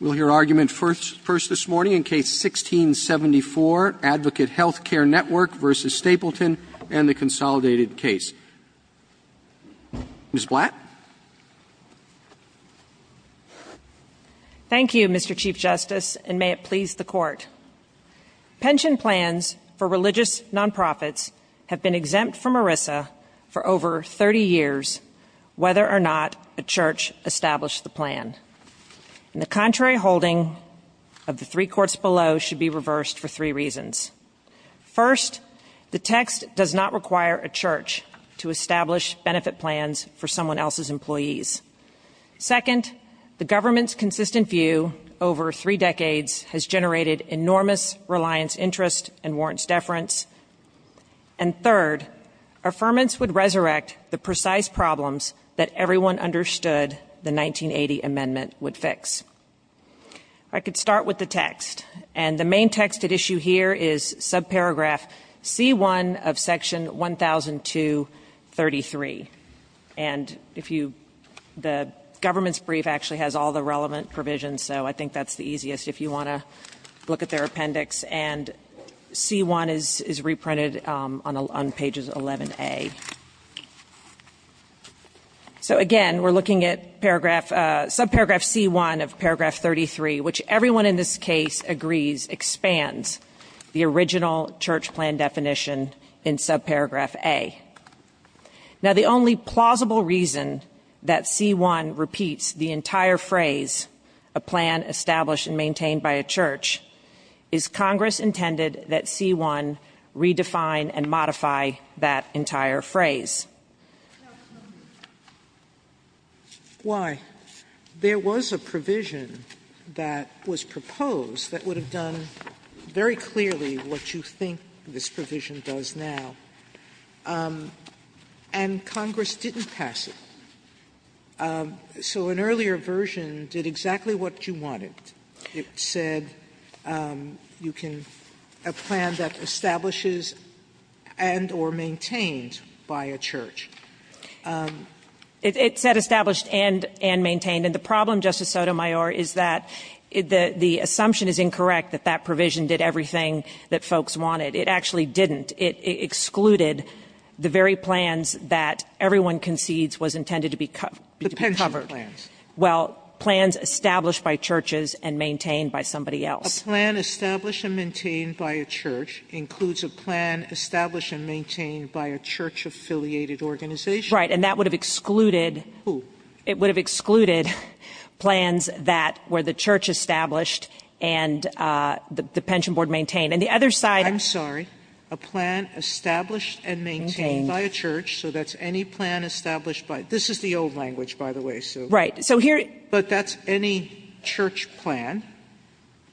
We'll hear argument first this morning in case 1674, Advocate Health Care Network v. Stapleton and the consolidated case. Ms. Blatt? Thank you, Mr. Chief Justice, and may it please the Court. Pension plans for religious non-profits have been exempt from ERISA for over 30 years, whether or not a church established the plan. The contrary holding of the three courts below should be reversed for three reasons. First, the text does not require a church to establish benefit plans for someone else's employees. Second, the government's consistent view over three decades has generated enormous reliance, interest, and warrants deference. And third, affirmance would resurrect the precise problems that everyone understood the 1980 amendment would fix. I could start with the text, and the main text at issue here is subparagraph C-1 of section 1002-33. And if you the government's brief actually has all the relevant provisions, so I think that's the easiest if you want to look at their appendix. And C-1 is reprinted on pages 11A. So again, we're looking at subparagraph C-1 of paragraph 33, which everyone in this case agrees expands the original church plan definition in subparagraph A. Now, the only plausible reason that C-1 repeats the entire phrase, a plan established and maintained by a church, is Congress intended that C-1 redefine and modify that entire phrase. Why? There was a provision that was proposed that would have done very clearly what you think this provision does now, and Congress didn't pass it. So an earlier version did exactly what you wanted. It said you can have a plan that establishes and or maintained by a church. It said established and maintained, and the problem, Justice Sotomayor, is that the assumption is incorrect that that provision did everything that folks wanted. It actually didn't. It excluded the very plans that everyone concedes was intended to be covered. The pension plans. Well, plans established by churches and maintained by somebody else. A plan established and maintained by a church includes a plan established and maintained by a church-affiliated organization. Right. And that would have excluded... Who? It would have excluded plans that were the church established and the pension board maintained. And the other side... I'm sorry. A plan established and maintained by a church. Maintained. So that's any plan established by... This is the old language, by the way, Sue. Right. So here... But that's any church plan,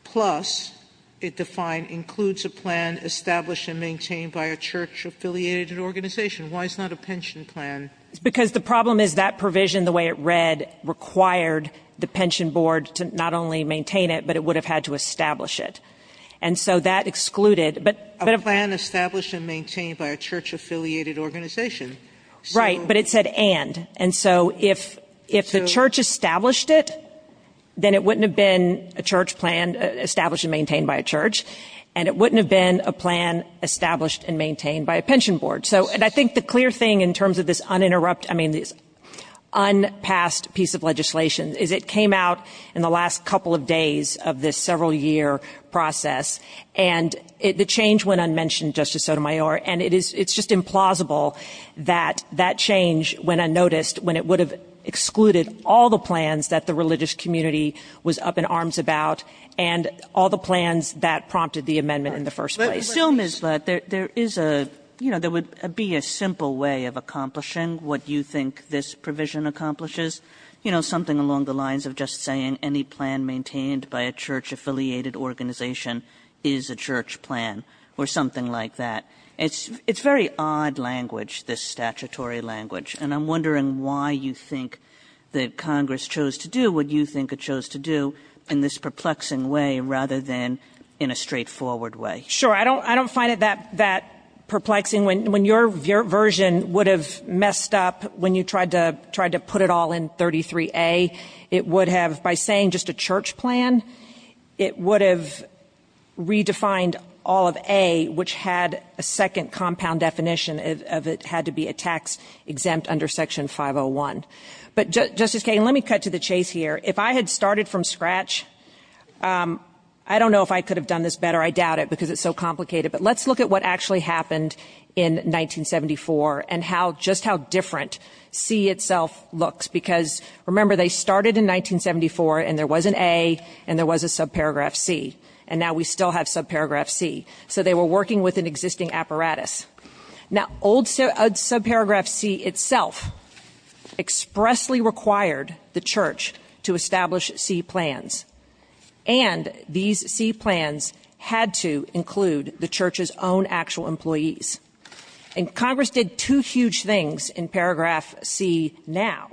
plus it defined includes a plan established and maintained by a church-affiliated organization. Why is it not a pension plan? Because the problem is that provision, the way it read, required the pension board to not only maintain it, but it would have had to establish it. And so that excluded... A plan established and maintained by a church-affiliated organization. Right. But it said and. And so if the church established it, then it wouldn't have been a church plan established and maintained by a church, and it wouldn't have been a plan established and maintained by a pension board. And I think the clear thing in terms of this un-interrupt... I mean, this un-passed piece of legislation is it came out in the last couple of days of this several-year process, and the change went unmentioned, Justice Sotomayor. And it's just implausible that that change went unnoticed when it would have excluded all the plans that the religious community was up in arms about and all the plans that prompted the amendment in the first place. Still, Ms. Lutt, there is a... You know, there would be a simple way of accomplishing what you think this provision accomplishes. You know, something along the lines of just saying any plan maintained by a church-affiliated organization is a church plan or something like that. It's very odd language, this statutory language. And I'm wondering why you think that Congress chose to do what you think it chose to do in this perplexing way rather than in a straightforward way. Sure. I don't find it that perplexing. When your version would have messed up when you tried to put it all in 33A, it would have... redefined all of A, which had a second compound definition of it had to be a tax exempt under Section 501. But, Justice Kagan, let me cut to the chase here. If I had started from scratch, I don't know if I could have done this better. I doubt it, because it's so complicated. But let's look at what actually happened in 1974 and how just how different C itself looks, because, remember, they started in 1974 and there was an A and there was a subparagraph C, and now we still have subparagraph C. So they were working with an existing apparatus. Now, old subparagraph C itself expressly required the church to establish C plans. And these C plans had to include the church's own actual employees. And Congress did two huge things in paragraph C now.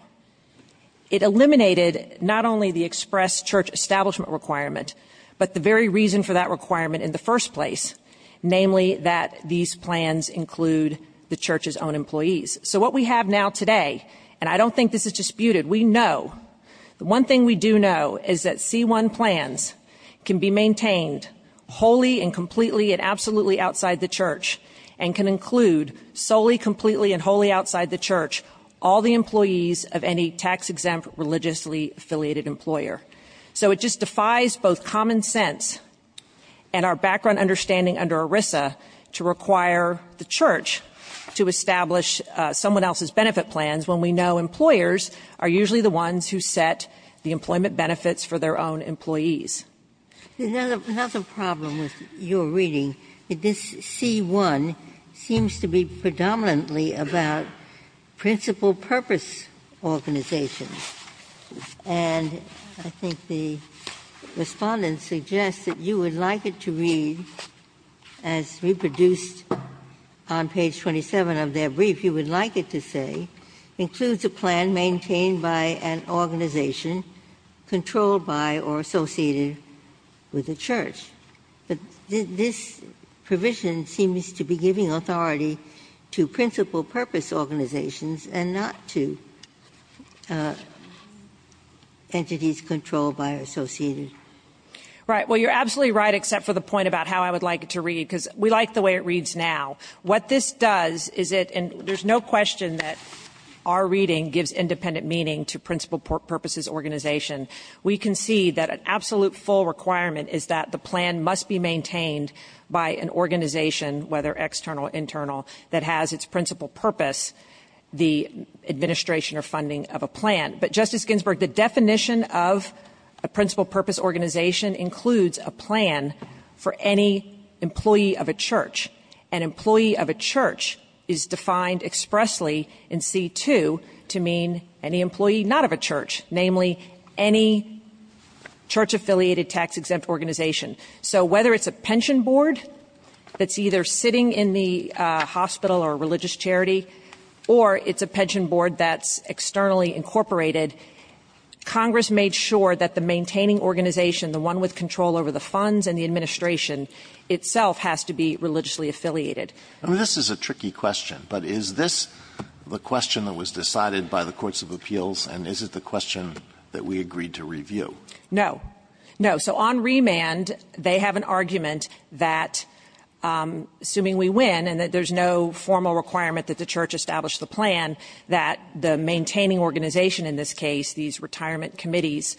It eliminated not only the express church establishment requirement, but the very reason for that requirement in the first place, namely that these plans include the church's own employees. So what we have now today, and I don't think this is disputed, we know, the one thing we do know is that C1 plans can be maintained wholly and completely and absolutely outside the church and can include solely, completely, and wholly outside the church all the employees of any tax-exempt religiously affiliated employer. So it just defies both common sense and our background understanding under ERISA to require the church to establish someone else's benefit plans when we know employers are usually the ones who set the employment benefits for their own employees. Ginsburg. Another problem with your reading, this C1 seems to be predominantly about principal purpose organizations. And I think the Respondent suggests that you would like it to read, as reproduced on page 27 of their brief, you would like it to say, includes a plan maintained by an organization controlled by or associated with a church. But this provision seems to be giving authority to principal purpose organizations and not to entities controlled by or associated. Right. Well, you're absolutely right, except for the point about how I would like it to read, because we like the way it reads now. What this does is it, and there's no question that our reading gives independent meaning to principal purposes organization. We can see that an absolute full requirement is that the plan must be maintained by an organization, whether external or internal, that has its principal purpose, the administration or funding of a plan. But, Justice Ginsburg, the definition of a principal purpose organization includes a plan for any employee of a church. An employee of a church is defined expressly in C2 to mean any employee not of a church, namely any church-affiliated tax-exempt organization. So whether it's a pension board that's either sitting in the hospital or a religious charity, or it's a pension board that's externally incorporated, Congress made sure that the maintaining organization, the one with control over the funds and the administration itself, has to be religiously affiliated. I mean, this is a tricky question, but is this the question that was decided by the courts of appeals, and is it the question that we agreed to review? No. No. So on remand, they have an argument that, assuming we win and that there's no formal requirement that the church establish the plan, that the maintaining organization in this case, these retirement committees,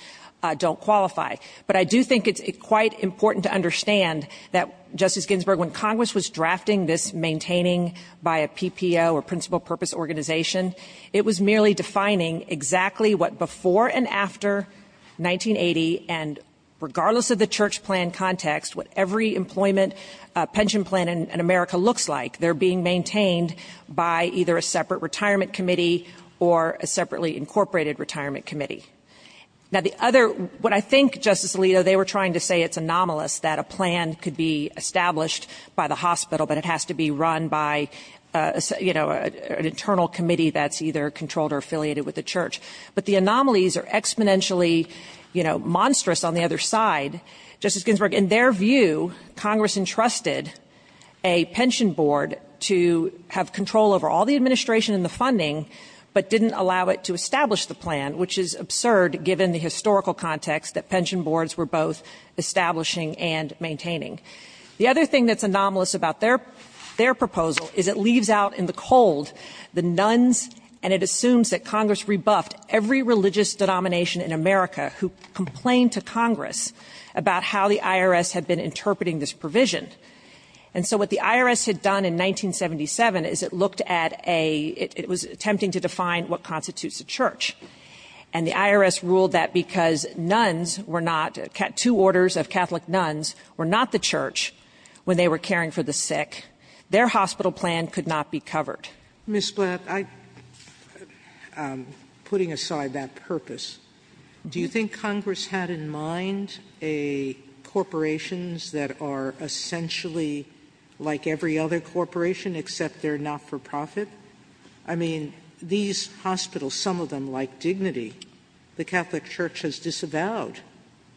don't qualify. But I do think it's quite important to understand that, Justice Ginsburg, when Congress was drafting this maintaining by a PPO, or principal purpose organization, it was merely defining exactly what before and after 1980, and regardless of the church plan context, what every employment pension plan in America looks like. They're being maintained by either a separate retirement committee or a separately incorporated retirement committee. Now, the other, what I think, Justice Alito, they were trying to say it's anomalous that a plan could be established by the hospital, but it has to be run by, you know, an internal committee that's either controlled or affiliated with the church. But the anomalies are exponentially, you know, monstrous on the other side. Justice Ginsburg, in their view, Congress entrusted a pension board to have control over all the administration and the funding, but didn't allow it to establish the plan, which is absurd given the historical context that pension boards were both establishing and maintaining. The other thing that's anomalous about their proposal is it leaves out in the cold the nuns, and it assumes that Congress rebuffed every religious denomination in America who complained to Congress about how the IRS had been interpreting this provision. And so what the IRS had done in 1977 is it looked at a, it was attempting to define what constitutes a church, and the IRS ruled that because nuns were not, two orders of Catholic nuns were not the church when they were caring for the sick, their hospital plan could not be covered. Sotomayor, Ms. Blatt, I'm putting aside that purpose. Do you think Congress had in mind a corporations that are essentially like every other corporation except they're not-for-profit? I mean, these hospitals, some of them like Dignity, the Catholic Church has disavowed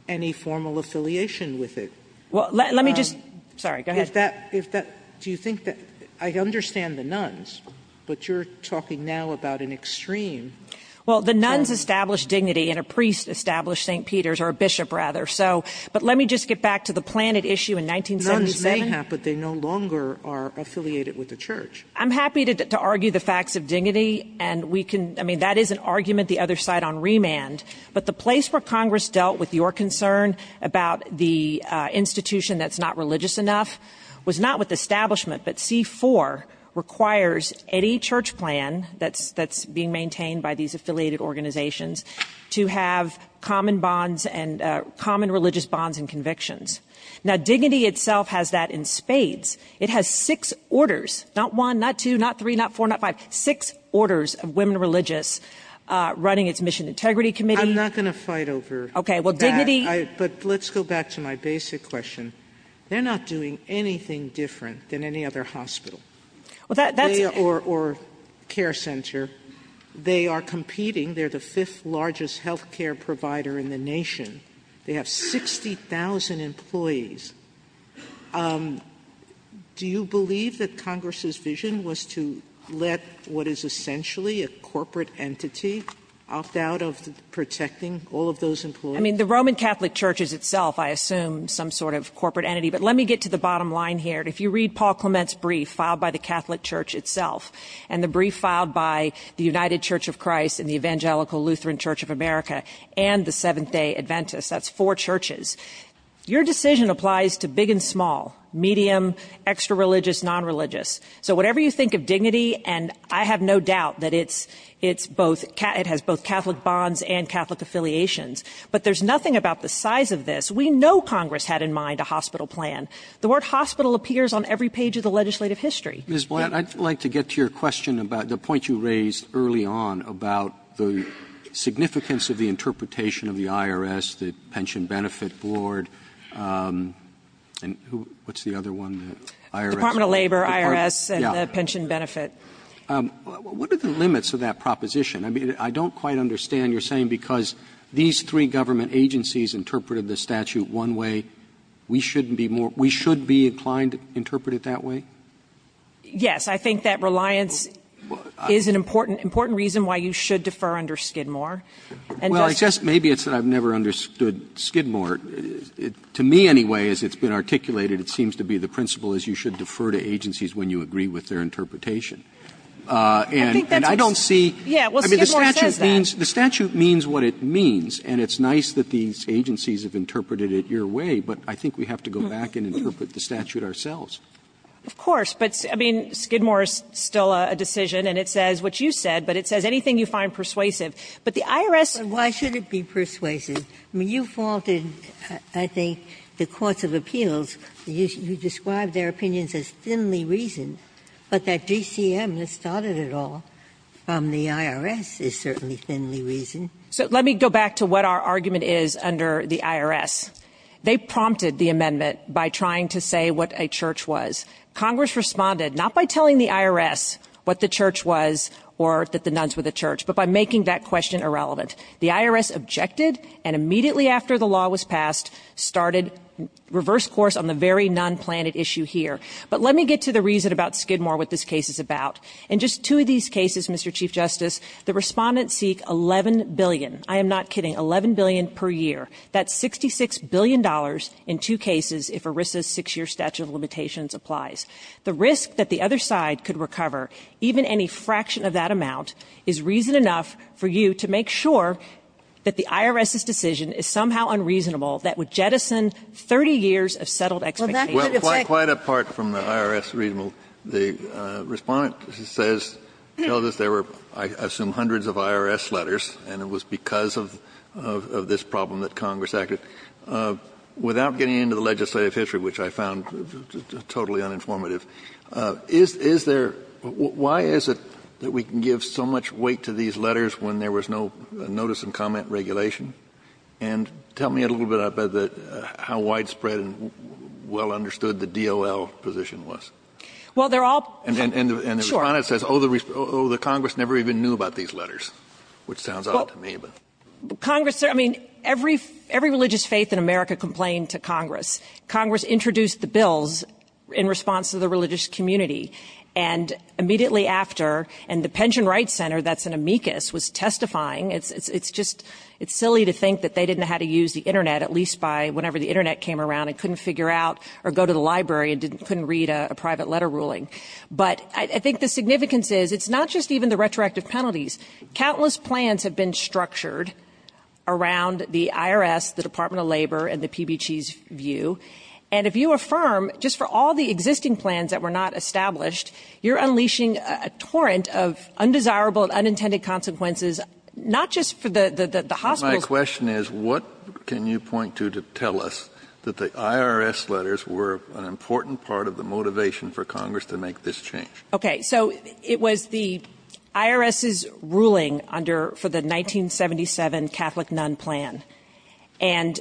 any formal affiliation with it. Blatt. Let me just go ahead. If that, if that, do you think that, I understand the nuns, but you're talking now about an extreme term. Well, the nuns established Dignity and a priest established St. Peter's, or a bishop rather. So, but let me just get back to the planted issue in 1977. Nuns may have, but they no longer are affiliated with the church. I'm happy to argue the facts of Dignity, and we can, I mean, that is an argument the other side on remand. But the place where Congress dealt with your concern about the institution that's not religious enough was not with the establishment, but C-4 requires any church plan that's, that's being maintained by these affiliated organizations to have common bonds and common religious bonds and convictions. Now, Dignity itself has that in spades. It has six orders, not one, not two, not three, not four, not five, six orders of women religious running its Mission Integrity Committee. I'm not going to fight over that. Okay, well, Dignity. But let's go back to my basic question. They're not doing anything different than any other hospital or care center. They are competing. They're the fifth largest health care provider in the nation. They have 60,000 employees. Do you believe that Congress's vision was to let what is essentially a corporate entity opt out of protecting all of those employees? I mean, the Roman Catholic Church is itself, I assume, some sort of corporate entity. But let me get to the bottom line here. If you read Paul Clement's brief filed by the Catholic Church itself and the brief filed by the United Church of Christ and the Evangelical Lutheran Church of America and the Seventh-day Adventists, that's four churches, your decision applies to big and small, medium, extra-religious, non-religious. So whatever you think of Dignity, and I have no doubt that it's both, it has both sides. There's nothing about the size of this. We know Congress had in mind a hospital plan. The word hospital appears on every page of the legislative history. Roberts. Ms. Blatt, I'd like to get to your question about the point you raised early on about the significance of the interpretation of the IRS, the Pension Benefit Board, and what's the other one, the IRS? Department of Labor, IRS, and the Pension Benefit. What are the limits of that proposition? I mean, I don't quite understand. You're saying because these three government agencies interpreted the statute one way, we shouldn't be more we should be inclined to interpret it that way? Yes. I think that reliance is an important reason why you should defer under Skidmore. Well, I guess maybe it's that I've never understood Skidmore. To me, anyway, as it's been articulated, it seems to be the principle is you should defer to agencies when you agree with their interpretation. And I don't see. Yeah, well, Skidmore says that. I mean, the statute means what it means, and it's nice that these agencies have interpreted it your way, but I think we have to go back and interpret the statute ourselves. Of course, but, I mean, Skidmore is still a decision, and it says what you said, but it says anything you find persuasive. But the IRS. But why should it be persuasive? I mean, you faulted, I think, the courts of appeals. You described their opinions as thinly reasoned, but that GCM has started it all from the IRS is certainly thinly reasoned. So let me go back to what our argument is under the IRS. They prompted the amendment by trying to say what a church was. Congress responded not by telling the IRS what the church was or that the nuns were the church, but by making that question irrelevant. The IRS objected and immediately after the law was passed started reverse course on the very nun planet issue here. But let me get to the reason about Skidmore what this case is about. In just two of these cases, Mr. Chief Justice, the Respondents seek $11 billion I am not kidding, $11 billion per year. That's $66 billion in two cases if ERISA's 6-year statute of limitations applies. The risk that the other side could recover even any fraction of that amount is reason enough for you to make sure that the IRS's decision is somehow unreasonable that would jettison 30 years of settled expectations. Well, quite apart from the IRS, the Respondent says, tells us there were I assume hundreds of IRS letters and it was because of this problem that Congress acted. Without getting into the legislative history, which I found totally uninformative, is there why is it that we can give so much weight to these letters when there was no notice and comment regulation? And tell me a little bit about how widespread and well understood the DOL position was. And the Respondent says, oh, the Congress never even knew about these letters, which sounds odd to me. Congress, I mean, every religious faith in America complained to Congress. Congress introduced the bills in response to the religious community. And immediately after, and the Pension Rights Center, that's an amicus, was testifying. It's just silly to think that they didn't know how to use the Internet, at least by whenever the Internet came around and couldn't figure out or go to the library and couldn't read a private letter ruling. But I think the significance is it's not just even the retroactive penalties. Countless plans have been structured around the IRS, the Department of Labor, and the PBG's view. And if you affirm just for all the existing plans that were not established, you're unleashing a torrent of undesirable and unintended consequences, not just for the hospitals. My question is, what can you point to to tell us that the IRS letters were an important part of the motivation for Congress to make this change? Okay. So it was the IRS's ruling under the 1977 Catholic Nun Plan. And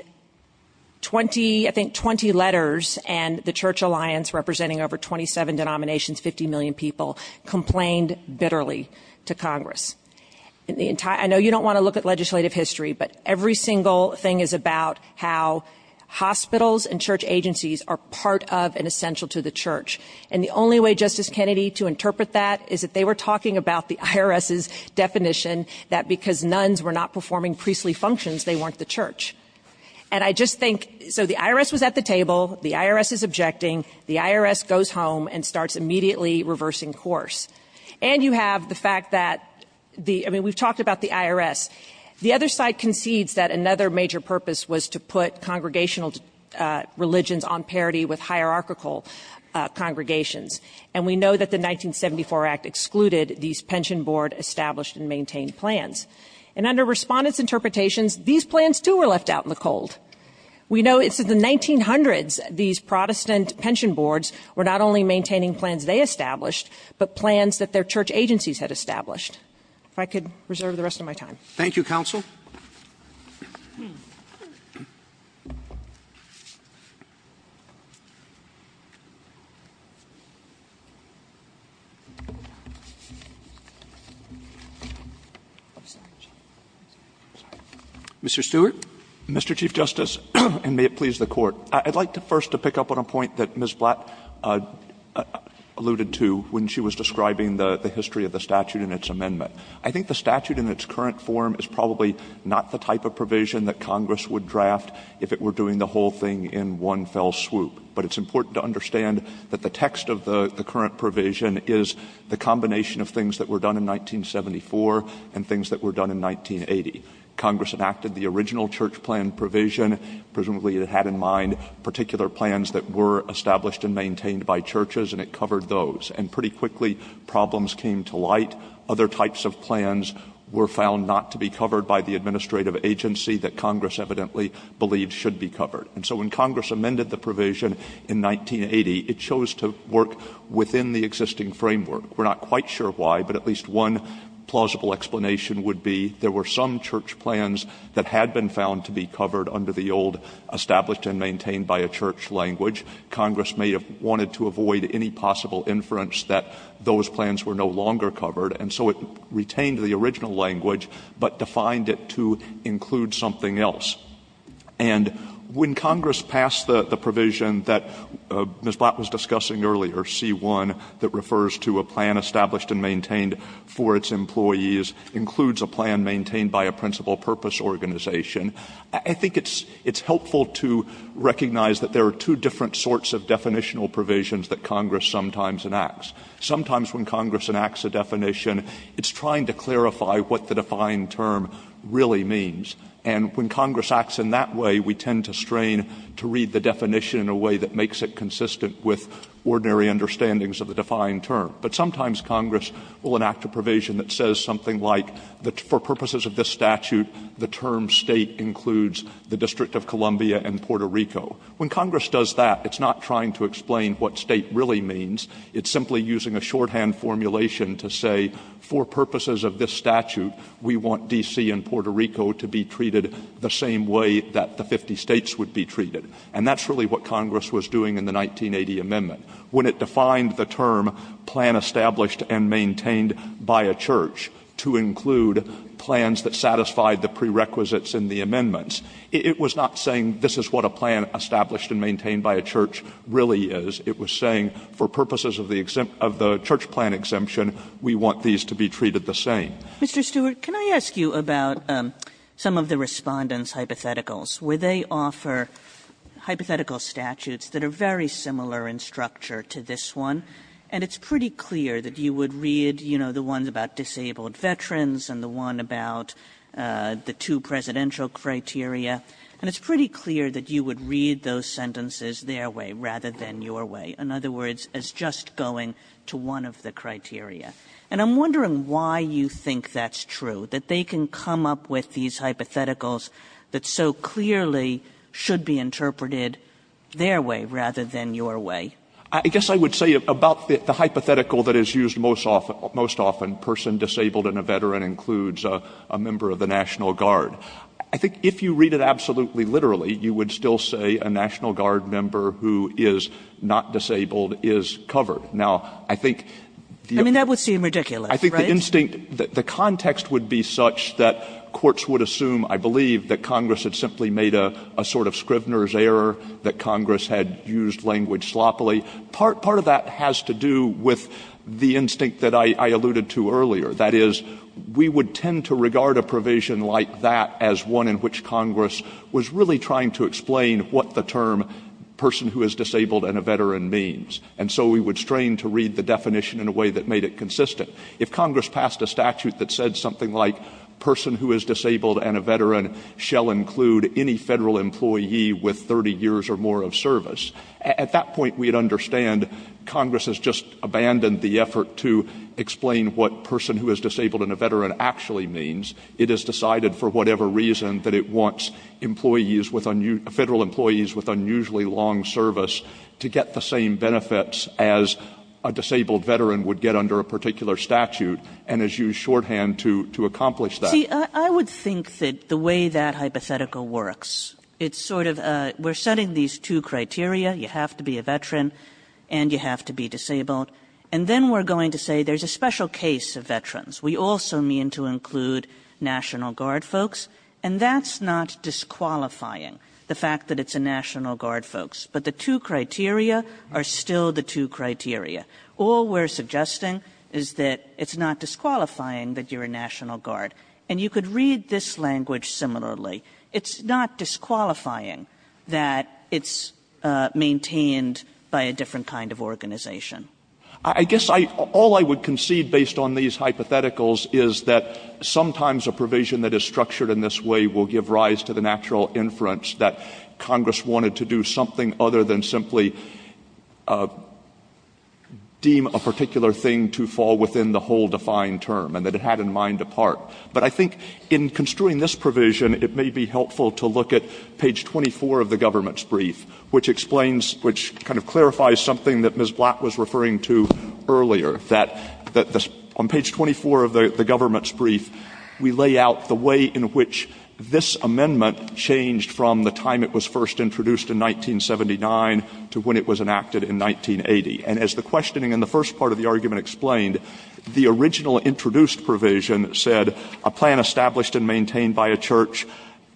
20, I think 20 letters and the Church Alliance representing over 27 denominations, 50 million people, complained bitterly to Congress. I know you don't want to look at legislative history, but every single thing is about how hospitals and church agencies are part of and essential to the church. And the only way, Justice Kennedy, to interpret that is that they were talking about the IRS's definition that because nuns were not performing priestly functions, they weren't the church. And I just think, so the IRS was at the table. The IRS is objecting. The IRS goes home and starts immediately reversing course. And you have the fact that the, I mean, we've talked about the IRS. The other side concedes that another major purpose was to put congregational religions on parity with hierarchical congregations. And we know that the 1974 Act excluded these pension board established and maintained plans. And under Respondent's interpretations, these plans, too, were left out in the cold. We know it's in the 1900s these Protestant pension boards were not only maintaining plans they established, but plans that their church agencies had established. If I could reserve the rest of my time. Thank you, Counsel. Mr. Stewart. Stewart. Mr. Chief Justice, and may it please the Court. I'd like to first to pick up on a point that Ms. Blatt alluded to when she was describing the history of the statute and its amendment. I think the statute in its current form is probably not the type of provision that Congress would draft if it were doing the whole thing in one fell swoop. But it's important to understand that the text of the current provision is the combination of things that were done in 1974 and things that were done in 1980. Congress enacted the original church plan provision. Presumably it had in mind particular plans that were established and maintained by churches, and it covered those. And pretty quickly problems came to light. Other types of plans were found not to be covered by the administrative agency that Congress evidently believed should be covered. And so when Congress amended the provision in 1980, it chose to work within the existing framework. We're not quite sure why, but at least one plausible explanation would be there were some church plans that had been found to be covered under the old established and maintained by a church language. Congress may have wanted to avoid any possible inference that those plans were no longer covered, and so it retained the original language but defined it to include something else. And when Congress passed the provision that Ms. Blatt was discussing earlier, C-1, that refers to a plan established and maintained for its employees, includes a plan maintained by a principal purpose organization. I think it's helpful to recognize that there are two different sorts of definitional provisions that Congress sometimes enacts. Sometimes when Congress enacts a definition, it's trying to clarify what the defined term really means. And when Congress acts in that way, we tend to strain to read the definition in a way that makes it consistent with ordinary understandings of the defined term. But sometimes Congress will enact a provision that says something like, for purposes of this statute, the term State includes the District of Columbia and Puerto Rico. When Congress does that, it's not trying to explain what State really means. It's simply using a shorthand formulation to say, for purposes of this statute, we want D.C. and Puerto Rico to be treated the same way that the 50 States would be treated. And that's really what Congress was doing in the 1980 amendment. When it defined the term, plan established and maintained by a church, to include plans that satisfied the prerequisites in the amendments, it was not saying this is what a plan established and maintained by a church really is. It was saying, for purposes of the church plan exemption, we want these to be treated the same. Kagan. Mr. Stewart, can I ask you about some of the Respondent's hypotheticals, where they offer hypothetical statutes that are very similar in structure to this one, and it's pretty clear that you would read, you know, the ones about disabled veterans and the one about the two presidential criteria, and it's pretty clear that you would read those sentences their way rather than your way. In other words, as just going to one of the criteria. And I'm wondering why you think that's true, that they can come up with these hypotheticals that so clearly should be interpreted their way rather than your way. Stewart. I guess I would say about the hypothetical that is used most often, person disabled in a veteran includes a member of the National Guard. I think if you read it absolutely literally, you would still say a National Guard member who is not disabled is covered. Now, I think the other one. Kagan. I mean, that would seem ridiculous, right? Stewart. I think the instinct, the context would be such that courts would assume, I believe, that Congress had simply made a sort of Scrivener's error, that Congress had used language sloppily. Part of that has to do with the instinct that I alluded to earlier. That is, we would tend to regard a provision like that as one in which Congress was really trying to explain what the term person who is disabled and a veteran means. And so we would strain to read the definition in a way that made it consistent. If Congress passed a statute that said something like, person who is disabled and a veteran shall include any Federal employee with 30 years or more of service, at that point we would understand Congress has just abandoned the effort to explain what person who is disabled and a veteran actually means. I would think that the way that hypothetical works, it's sort of we're setting these two criteria, you have to be a veteran and you have to be disabled, and then we're going to say there's a special case of veterans. We also mean to include National Guard folks, and that's not disqualifying the fact that it's a National Guard folks. But the two criteria are still the two criteria. All we're suggesting is that it's not disqualifying that you're a National Guard. And you could read this language similarly. It's not disqualifying that it's maintained by a different kind of organization. Stewart. I guess all I would concede based on these hypotheticals is that sometimes a provision that is structured in this way will give rise to the natural inference that Congress wanted to do something other than simply deem a particular thing to fall within the whole defined term and that it had in mind a part. But I think in construing this provision, it may be helpful to look at page 24 of the government's brief, which explains, which kind of clarifies something that Ms. Blatt was referring to earlier, that on page 24 of the government's brief, we lay out the way in which this amendment changed from the time it was first introduced in 1979 to when it was enacted in 1980. And as the questioning in the first part of the argument explained, the original introduced provision said, a plan established and maintained by a church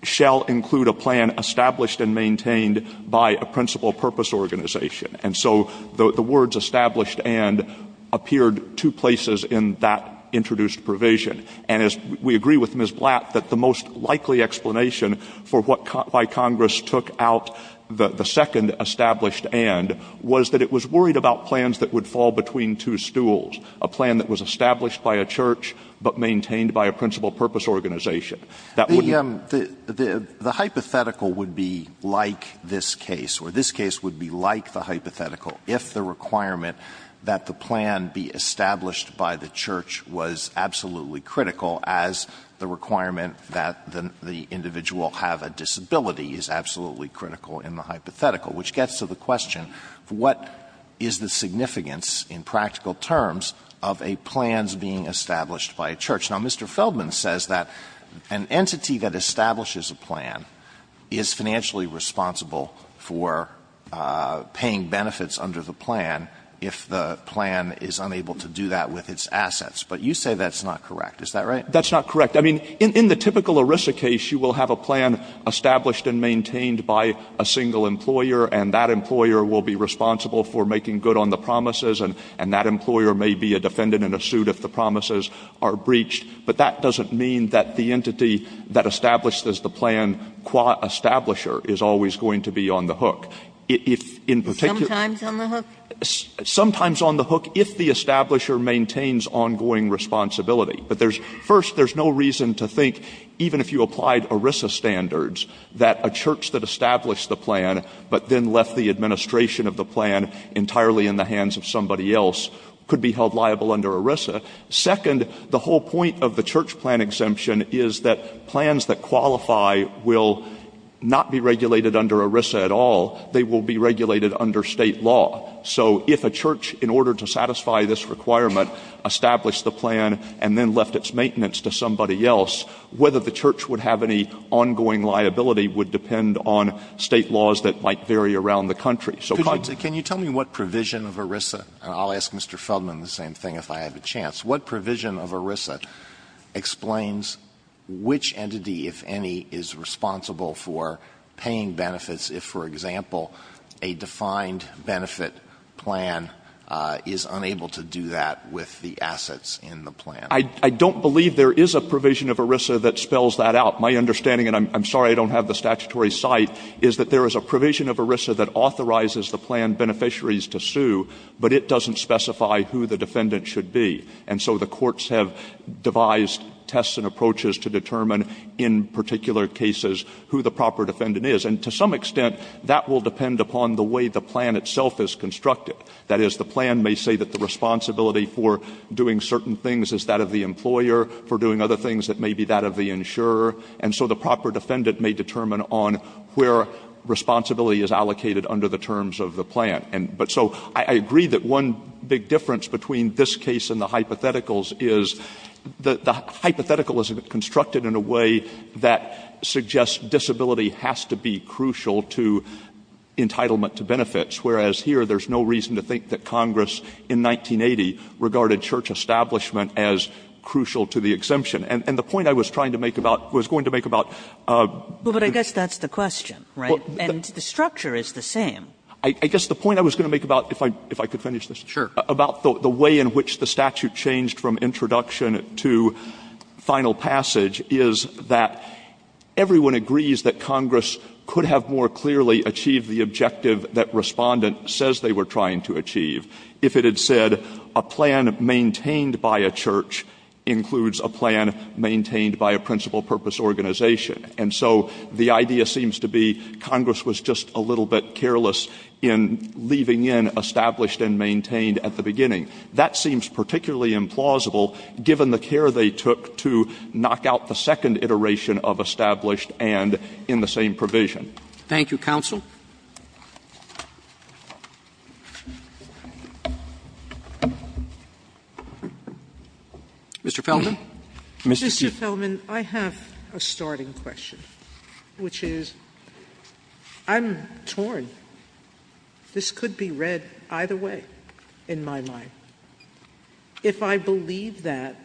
shall include a plan established and maintained by a principal purpose organization. And so the words established and appeared two places in that introduced provision. And as we agree with Ms. Blatt, that the most likely explanation for what caught by Congress took out the second established and was that it was worried about plans that would fall between two stools, a plan that was established by a church but maintained by a principal purpose organization. That would be the hypothetical would be like this case, or this case would be like the hypothetical if the requirement that the plan be established by the church was absolutely critical as the requirement that the individual have a disability is absolutely critical in the hypothetical, which gets to the question, what is the significance in practical terms of a plan's being established by a church? Now, Mr. Feldman says that an entity that establishes a plan is financially responsible for paying benefits under the plan if the plan is unable to do that with its assets, but you say that's not correct. Is that right? Stewart. That's not correct. I mean, in the typical ERISA case, you will have a plan established and maintained by a single employer, and that employer will be responsible for making good on the promises, and that employer may be a defendant in a suit if the promises are breached. But that doesn't mean that the entity that establishes the plan qua establisher If in particular the entity that establishes the plan is financially responsible that remains ongoing responsibility. But first, there's no reason to think, even if you applied ERISA standards, that a church that established the plan but then left the administration of the plan entirely in the hands of somebody else could be held liable under ERISA. Second, the whole point of the church plan exemption is that plans that qualify will not be regulated under ERISA at all. They will be regulated under state law. So if a church, in order to satisfy this requirement, established the plan and then left its maintenance to somebody else, whether the church would have any ongoing liability would depend on state laws that might vary around the country. So Congress can you tell me what provision of ERISA, and I'll ask Mr. Feldman the same thing if I have a chance, what provision of ERISA explains which entity, if any, is responsible for paying benefits if, for example, a defined benefit plan is unable to do that with the assets in the plan? Stewart. I don't believe there is a provision of ERISA that spells that out. My understanding, and I'm sorry I don't have the statutory cite, is that there is a provision of ERISA that authorizes the plan beneficiaries to sue, but it doesn't specify who the defendant should be. And so the courts have devised tests and approaches to determine in particular cases who the proper defendant is. And to some extent, that will depend upon the way the plan itself is constructed. That is, the plan may say that the responsibility for doing certain things is that of the employer, for doing other things it may be that of the insurer, and so the proper defendant may determine on where responsibility is allocated under the terms of the plan. But so I agree that one big difference between this case and the hypotheticals is the hypothetical is constructed in a way that suggests disability has to be crucial to entitlement to benefits, whereas here there is no reason to think that Congress in 1980 regarded church establishment as crucial to the exemption. And the point I was trying to make about, was going to make about. Kagan. Well, but I guess that's the question, right? And the structure is the same. Stewart. I guess the point I was going to make about, if I could finish this. About the way in which the statute changed from introduction to final passage is that everyone agrees that Congress could have more clearly achieved the objective that Respondent says they were trying to achieve if it had said a plan maintained by a church includes a plan maintained by a principal purpose organization. And so the idea seems to be Congress was just a little bit careless in leaving in established and maintained at the beginning. That seems particularly implausible given the care they took to knock out the second iteration of established and in the same provision. Thank you, counsel. Mr. Feldman. Mr. Chief. Mr. Feldman, I have a starting question, which is I'm torn. This could be read either way in my mind. If I believe that,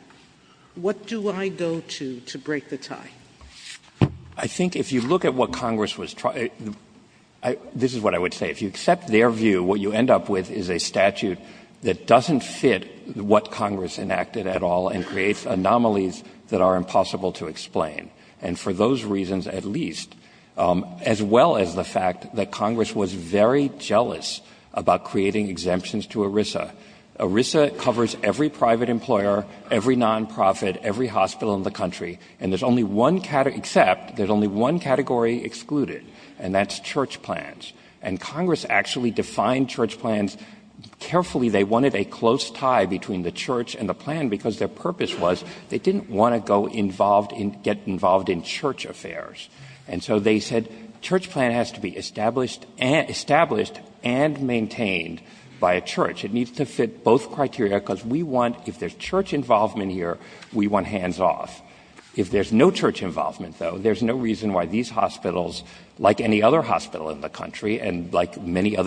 what do I go to to break the tie? I think if you look at what Congress was trying to do, this is what I would say. If you accept their view, what you end up with is a statute that doesn't fit what Congress enacted at all and creates anomalies that are impossible to explain. And for those reasons at least, as well as the fact that Congress was very jealous about creating exemptions to ERISA. ERISA covers every private employer, every nonprofit, every hospital in the country, and there's only one category, except there's only one category excluded, and that's church plans. And Congress actually defined church plans carefully. They wanted a close tie between the church and the plan because their purpose was they didn't want to get involved in church affairs. And so they said church plan has to be established and maintained by a church. It needs to fit both criteria because we want, if there's church involvement here, we want hands off. If there's no church involvement, though, there's no reason why these hospitals, like any other hospital in the country and like every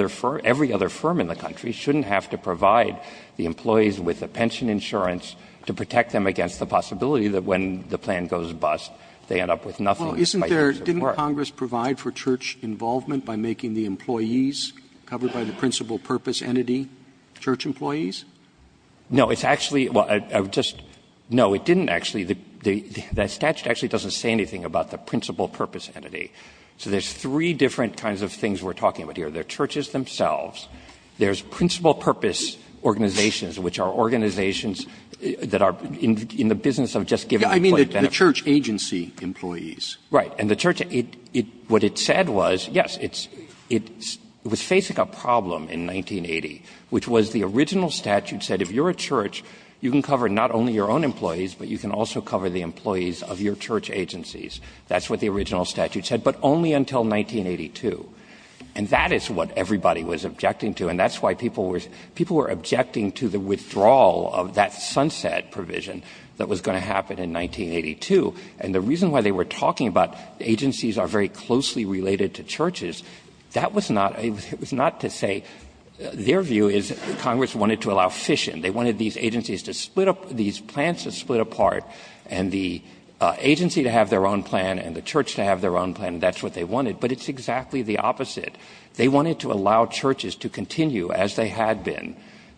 other firm in the country, shouldn't have to provide the employees with the pension insurance to protect them against the possibility that when the plan goes bust, they end up with nothing. Roberts. Roberts. Didn't Congress provide for church involvement by making the employees covered by the principal purpose entity church employees? No. It's actually – well, I would just – no, it didn't actually. The statute actually doesn't say anything about the principal purpose entity. So there's three different kinds of things we're talking about here. There are churches themselves. There's principal purpose organizations, which are organizations that are in the business of just giving employee benefits. I mean the church agency employees. Right. And the church – what it said was, yes, it was facing a problem in 1980, which was the original statute said if you're a church, you can cover not only your own employees, but you can also cover the employees of your church agencies. That's what the original statute said, but only until 1982. And that is what everybody was objecting to, and that's why people were – people were objecting to the withdrawal of that sunset provision that was going to happen in 1982. And the reason why they were talking about agencies are very closely related to churches, that was not – it was not to say – their view is Congress wanted to allow fission. They wanted these agencies to split up – these plans to split apart, and the agency to have their own plan and the church to have their own plan, and that's what they said was the opposite. They wanted to allow churches to continue as they had been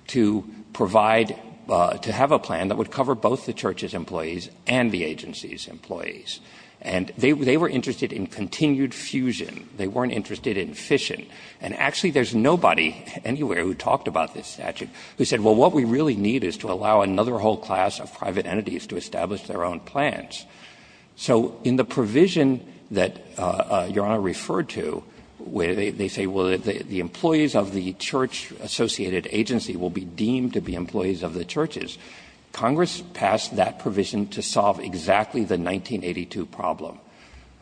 to provide – to have a plan that would cover both the church's employees and the agency's employees. And they were interested in continued fusion. They weren't interested in fission. And actually there's nobody anywhere who talked about this statute who said, well, what we really need is to allow another whole class of private entities to establish their own plans. So in the provision that Your Honor referred to, they say, well, the employees of the church-associated agency will be deemed to be employees of the churches. Congress passed that provision to solve exactly the 1982 problem,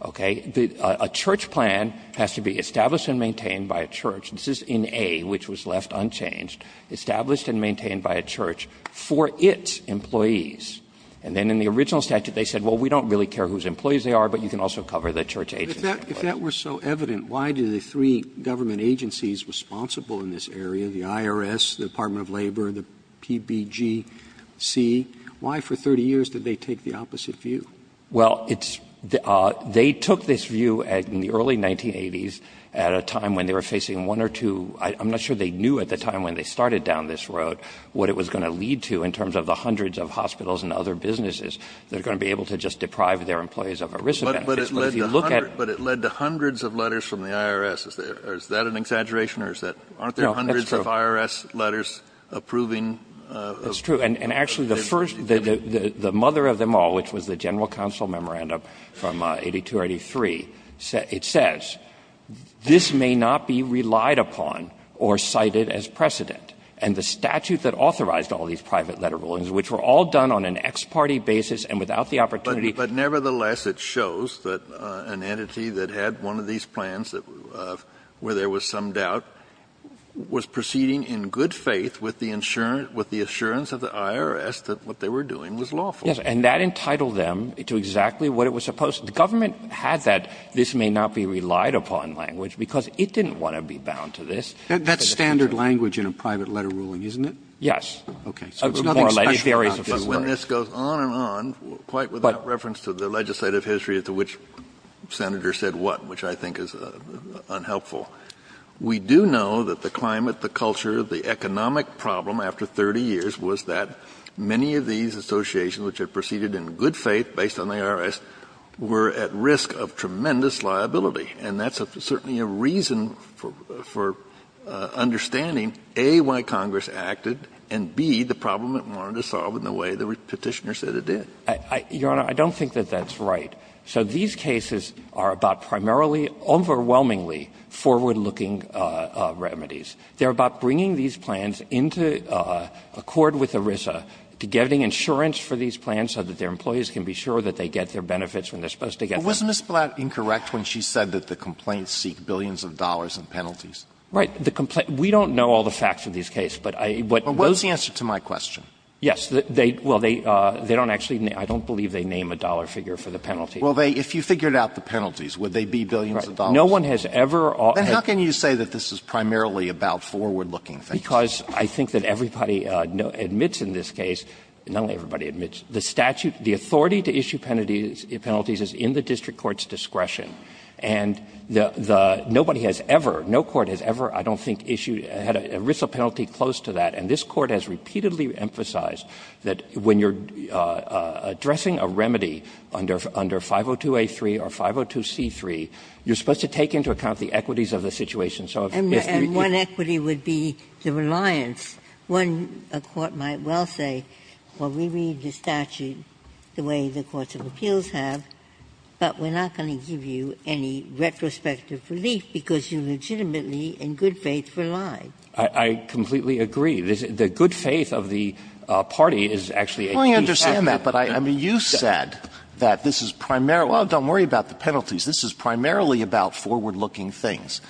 okay? A church plan has to be established and maintained by a church. This is in A, which was left unchanged. Established and maintained by a church for its employees. And then in the original statute they said, well, we don't really care whose employees they are, but you can also cover the church agency. Roberts. If that were so evident, why do the three government agencies responsible in this area, the IRS, the Department of Labor, the PBGC, why for 30 years did they take the opposite view? Well, it's – they took this view in the early 1980s at a time when they were facing one or two – I'm not sure they knew at the time when they started down this road what it was going to lead to in terms of the hundreds of hospitals and other businesses that are going to be able to just deprive their employees of ERISA benefits. But if you look at – But it led to hundreds of letters from the IRS. Is that an exaggeration or is that – No, that's true. Aren't there hundreds of IRS letters approving – That's true. And actually the first – the mother of them all, which was the general counsel memorandum from 82 or 83, it says, this may not be relied upon or cited as precedent. And the statute that authorized all these private letter rulings, which were all done on an ex parte basis and without the opportunity – But nevertheless, it shows that an entity that had one of these plans where there was some doubt was proceeding in good faith with the insurance – with the assurance of the IRS that what they were doing was lawful. Yes. And that entitled them to exactly what it was supposed – the government had that this may not be relied upon language because it didn't want to be bound to this. That's standard language in a private letter ruling, isn't it? Yes. Okay. So it's nothing special about this. But when this goes on and on, quite without reference to the legislative history to which Senator said what, which I think is unhelpful, we do know that the climate, the culture, the economic problem after 30 years was that many of these associations which had proceeded in good faith based on the IRS were at risk of tremendous liability. And that's certainly a reason for understanding, A, why Congress acted, and, B, the problem it wanted to solve in the way the Petitioner said it did. Your Honor, I don't think that that's right. So these cases are about primarily, overwhelmingly forward-looking remedies. They're about bringing these plans into accord with ERISA, to getting insurance for these plans so that their employees can be sure that they get their benefits when they're supposed to get them. But was Ms. Blatt incorrect when she said that the complaints seek billions of dollars in penalties? Right. The complaint we don't know all the facts of these cases. But I, what those. What's the answer to my question? Yes. They, well, they, they don't actually, I don't believe they name a dollar figure for the penalties. Well, they, if you figured out the penalties, would they be billions of dollars? No one has ever. Then how can you say that this is primarily about forward-looking things? Because I think that everybody admits in this case, not only everybody admits, the statute, the authority to issue penalties is in the district court's discretion. And the, the, nobody has ever, no court has ever, I don't think, issued, had an ERISA penalty close to that. And this Court has repeatedly emphasized that when you're addressing a remedy under 502a3 or 502c3, you're supposed to take into account the equities of the situation. And so if you. And one equity would be the reliance. One, a court might well say, well, we read the statute the way the courts of appeals have, but we're not going to give you any retrospective relief because you legitimately in good faith rely. I, I completely agree. The, the good faith of the party is actually a key factor. Well, I understand that, but I, I mean, you said that this is primarily, well, don't worry about the penalties. This is primarily about forward-looking things.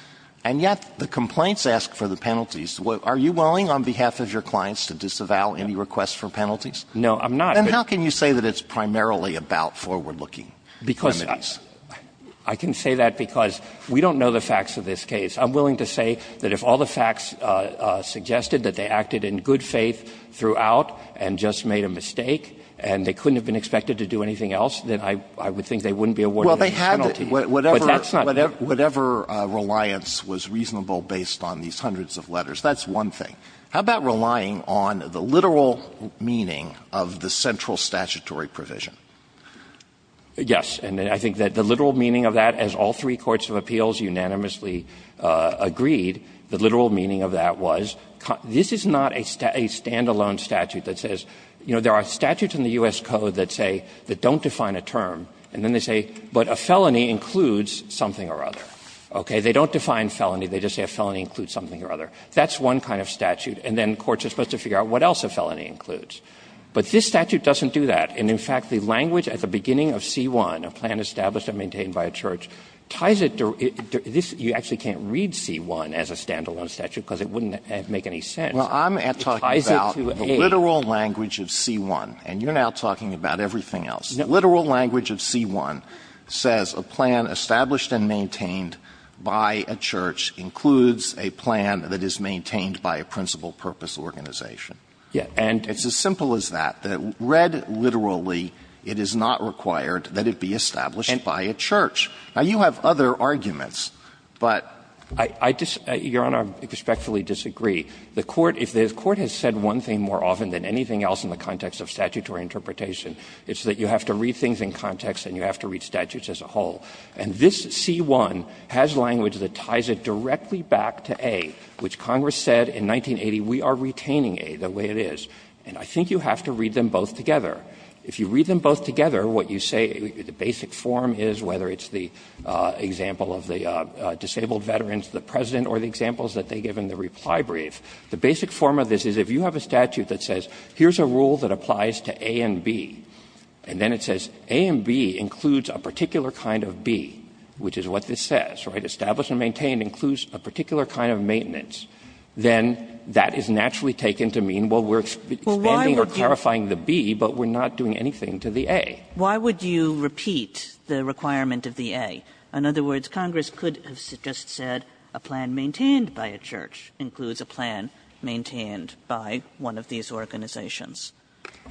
And yet the complaints ask for the penalties. Are you willing, on behalf of your clients, to disavow any requests for penalties? No, I'm not. Then how can you say that it's primarily about forward-looking remedies? Because I can say that because we don't know the facts of this case. I'm willing to say that if all the facts suggested that they acted in good faith throughout and just made a mistake and they couldn't have been expected to do anything Well, they had whatever, whatever, whatever reliance was reasonable based on these hundreds of letters. That's one thing. How about relying on the literal meaning of the central statutory provision? Yes, and I think that the literal meaning of that, as all three courts of appeals unanimously agreed, the literal meaning of that was, this is not a stand-alone statute that says, you know, there are statutes in the U.S. Code that say, that don't define a term, and then they say, but a felony includes something or other, okay? They don't define felony. They just say a felony includes something or other. That's one kind of statute. And then courts are supposed to figure out what else a felony includes. But this statute doesn't do that. And, in fact, the language at the beginning of C-1, a plan established and maintained by a church, ties it to this. You actually can't read C-1 as a stand-alone statute because it wouldn't make any sense. It ties it to A. Alito, the literal language of C-1, and you're now talking about everything else, the literal language of C-1 says a plan established and maintained by a church includes a plan that is maintained by a principal purpose organization. And it's as simple as that, that read literally, it is not required that it be established by a church. Now, you have other arguments, but I just, Your Honor, respectfully disagree. The court, if the court has said one thing more often than anything else in the context of statutory interpretation, it's that you have to read things in context and you have to read statutes as a whole. And this C-1 has language that ties it directly back to A, which Congress said in 1980, we are retaining A the way it is. And I think you have to read them both together. If you read them both together, what you say, the basic form is, whether it's the example of the disabled veterans, the President, or the examples that they give in the Supply Brief, the basic form of this is if you have a statute that says, here is a rule that applies to A and B, and then it says A and B includes a particular kind of B, which is what this says, right? Established and maintained includes a particular kind of maintenance, then that is naturally taken to mean, well, we are expanding or clarifying the B, but we are not doing anything to the A. Kagan, Why would you repeat the requirement of the A? In other words, Congress could have just said, a plan maintained by a church includes a plan maintained by one of these organizations.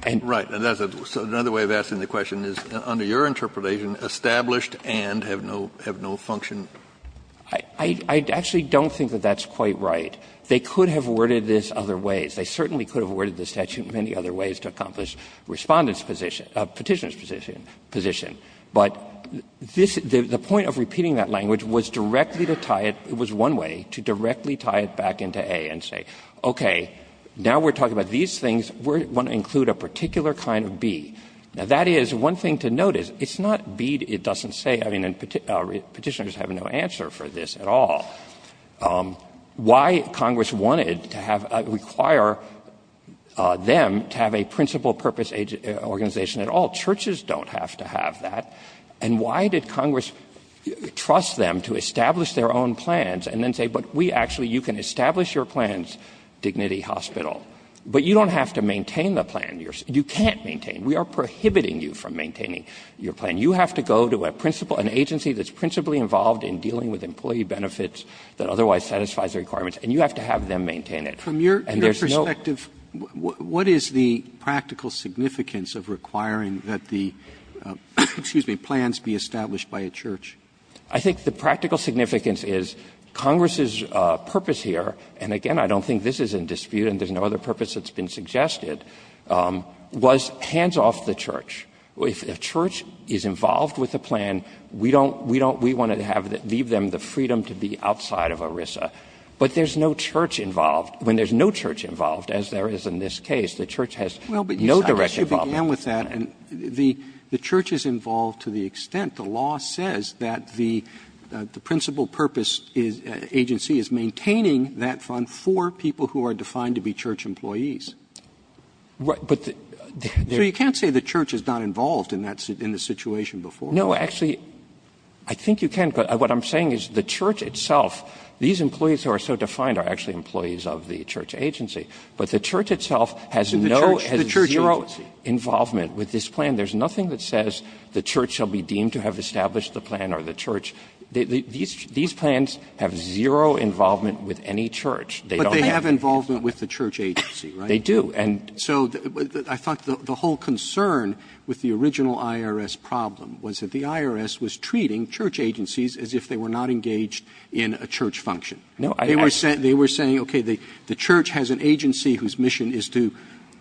And that's a question, so another way of asking the question is, under your interpretation, established and have no function? I actually don't think that that's quite right. They could have worded this other ways. They certainly could have worded the statute many other ways to accomplish Respondent's position, Petitioner's position. But this, the point of repeating that language was directly to tie it, it was one way, to directly tie it back into A and say, okay, now we are talking about these things, we want to include a particular kind of B. Now, that is, one thing to note is, it's not B, it doesn't say, I mean, Petitioner has no answer for this at all. Why Congress wanted to have, require them to have a principal purpose organization at all, churches don't have to have that, and why did Congress trust them to establish their own plans and then say, but we actually, you can establish your plans, Dignity Hospital, but you don't have to maintain the plan, you can't maintain, we are prohibiting you from maintaining your plan, you have to go to a principal, an agency that is principally involved in dealing with employee benefits that otherwise satisfies the requirements, and you have to have them maintain it. And there is no ---- Roberts From your perspective, what is the practical significance of requiring that the, excuse me, plans be established by a church? I think the practical significance is, Congress's purpose here, and again, I don't think this is in dispute and there is no other purpose that has been suggested, was hands off the church. If a church is involved with a plan, we don't, we don't, we want to have, leave them the freedom to be outside of ERISA. But there is no church involved. When there is no church involved, as there is in this case, the church has no direct involvement. Roberts Well, but you began with that, and the church is involved to the extent, the law says that the principal purpose is, agency is maintaining that fund for people who are defined to be church employees. So you can't say the church is not involved in that, in the situation before. No, actually, I think you can, but what I'm saying is the church itself, these employees who are so defined are actually employees of the church agency, but the church itself has no, has zero involvement with this plan. There is nothing that says the church shall be deemed to have established the plan or the church. These plans have zero involvement with any church. They don't have any. Roberts But they have involvement with the church agency, right? They do. And so I thought the whole concern with the original IRS problem was that the IRS was treating church agencies as if they were not engaged in a church function. They were saying, okay, the church has an agency whose mission is to,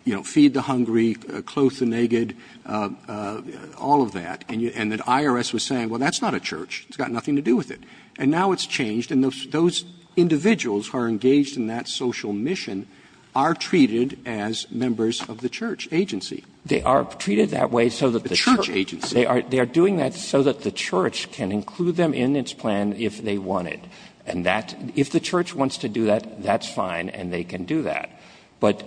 you know, feed the hungry, clothe the naked, all of that, and the IRS was saying, well, that's not a church. It's got nothing to do with it. And now it's changed, and those individuals who are engaged in that social mission are treated as members of the church agency. They are treated that way so that the church agency, they are, they are doing that so that the church can include them in its plan if they want it. And that, if the church wants to do that, that's fine and they can do that. But,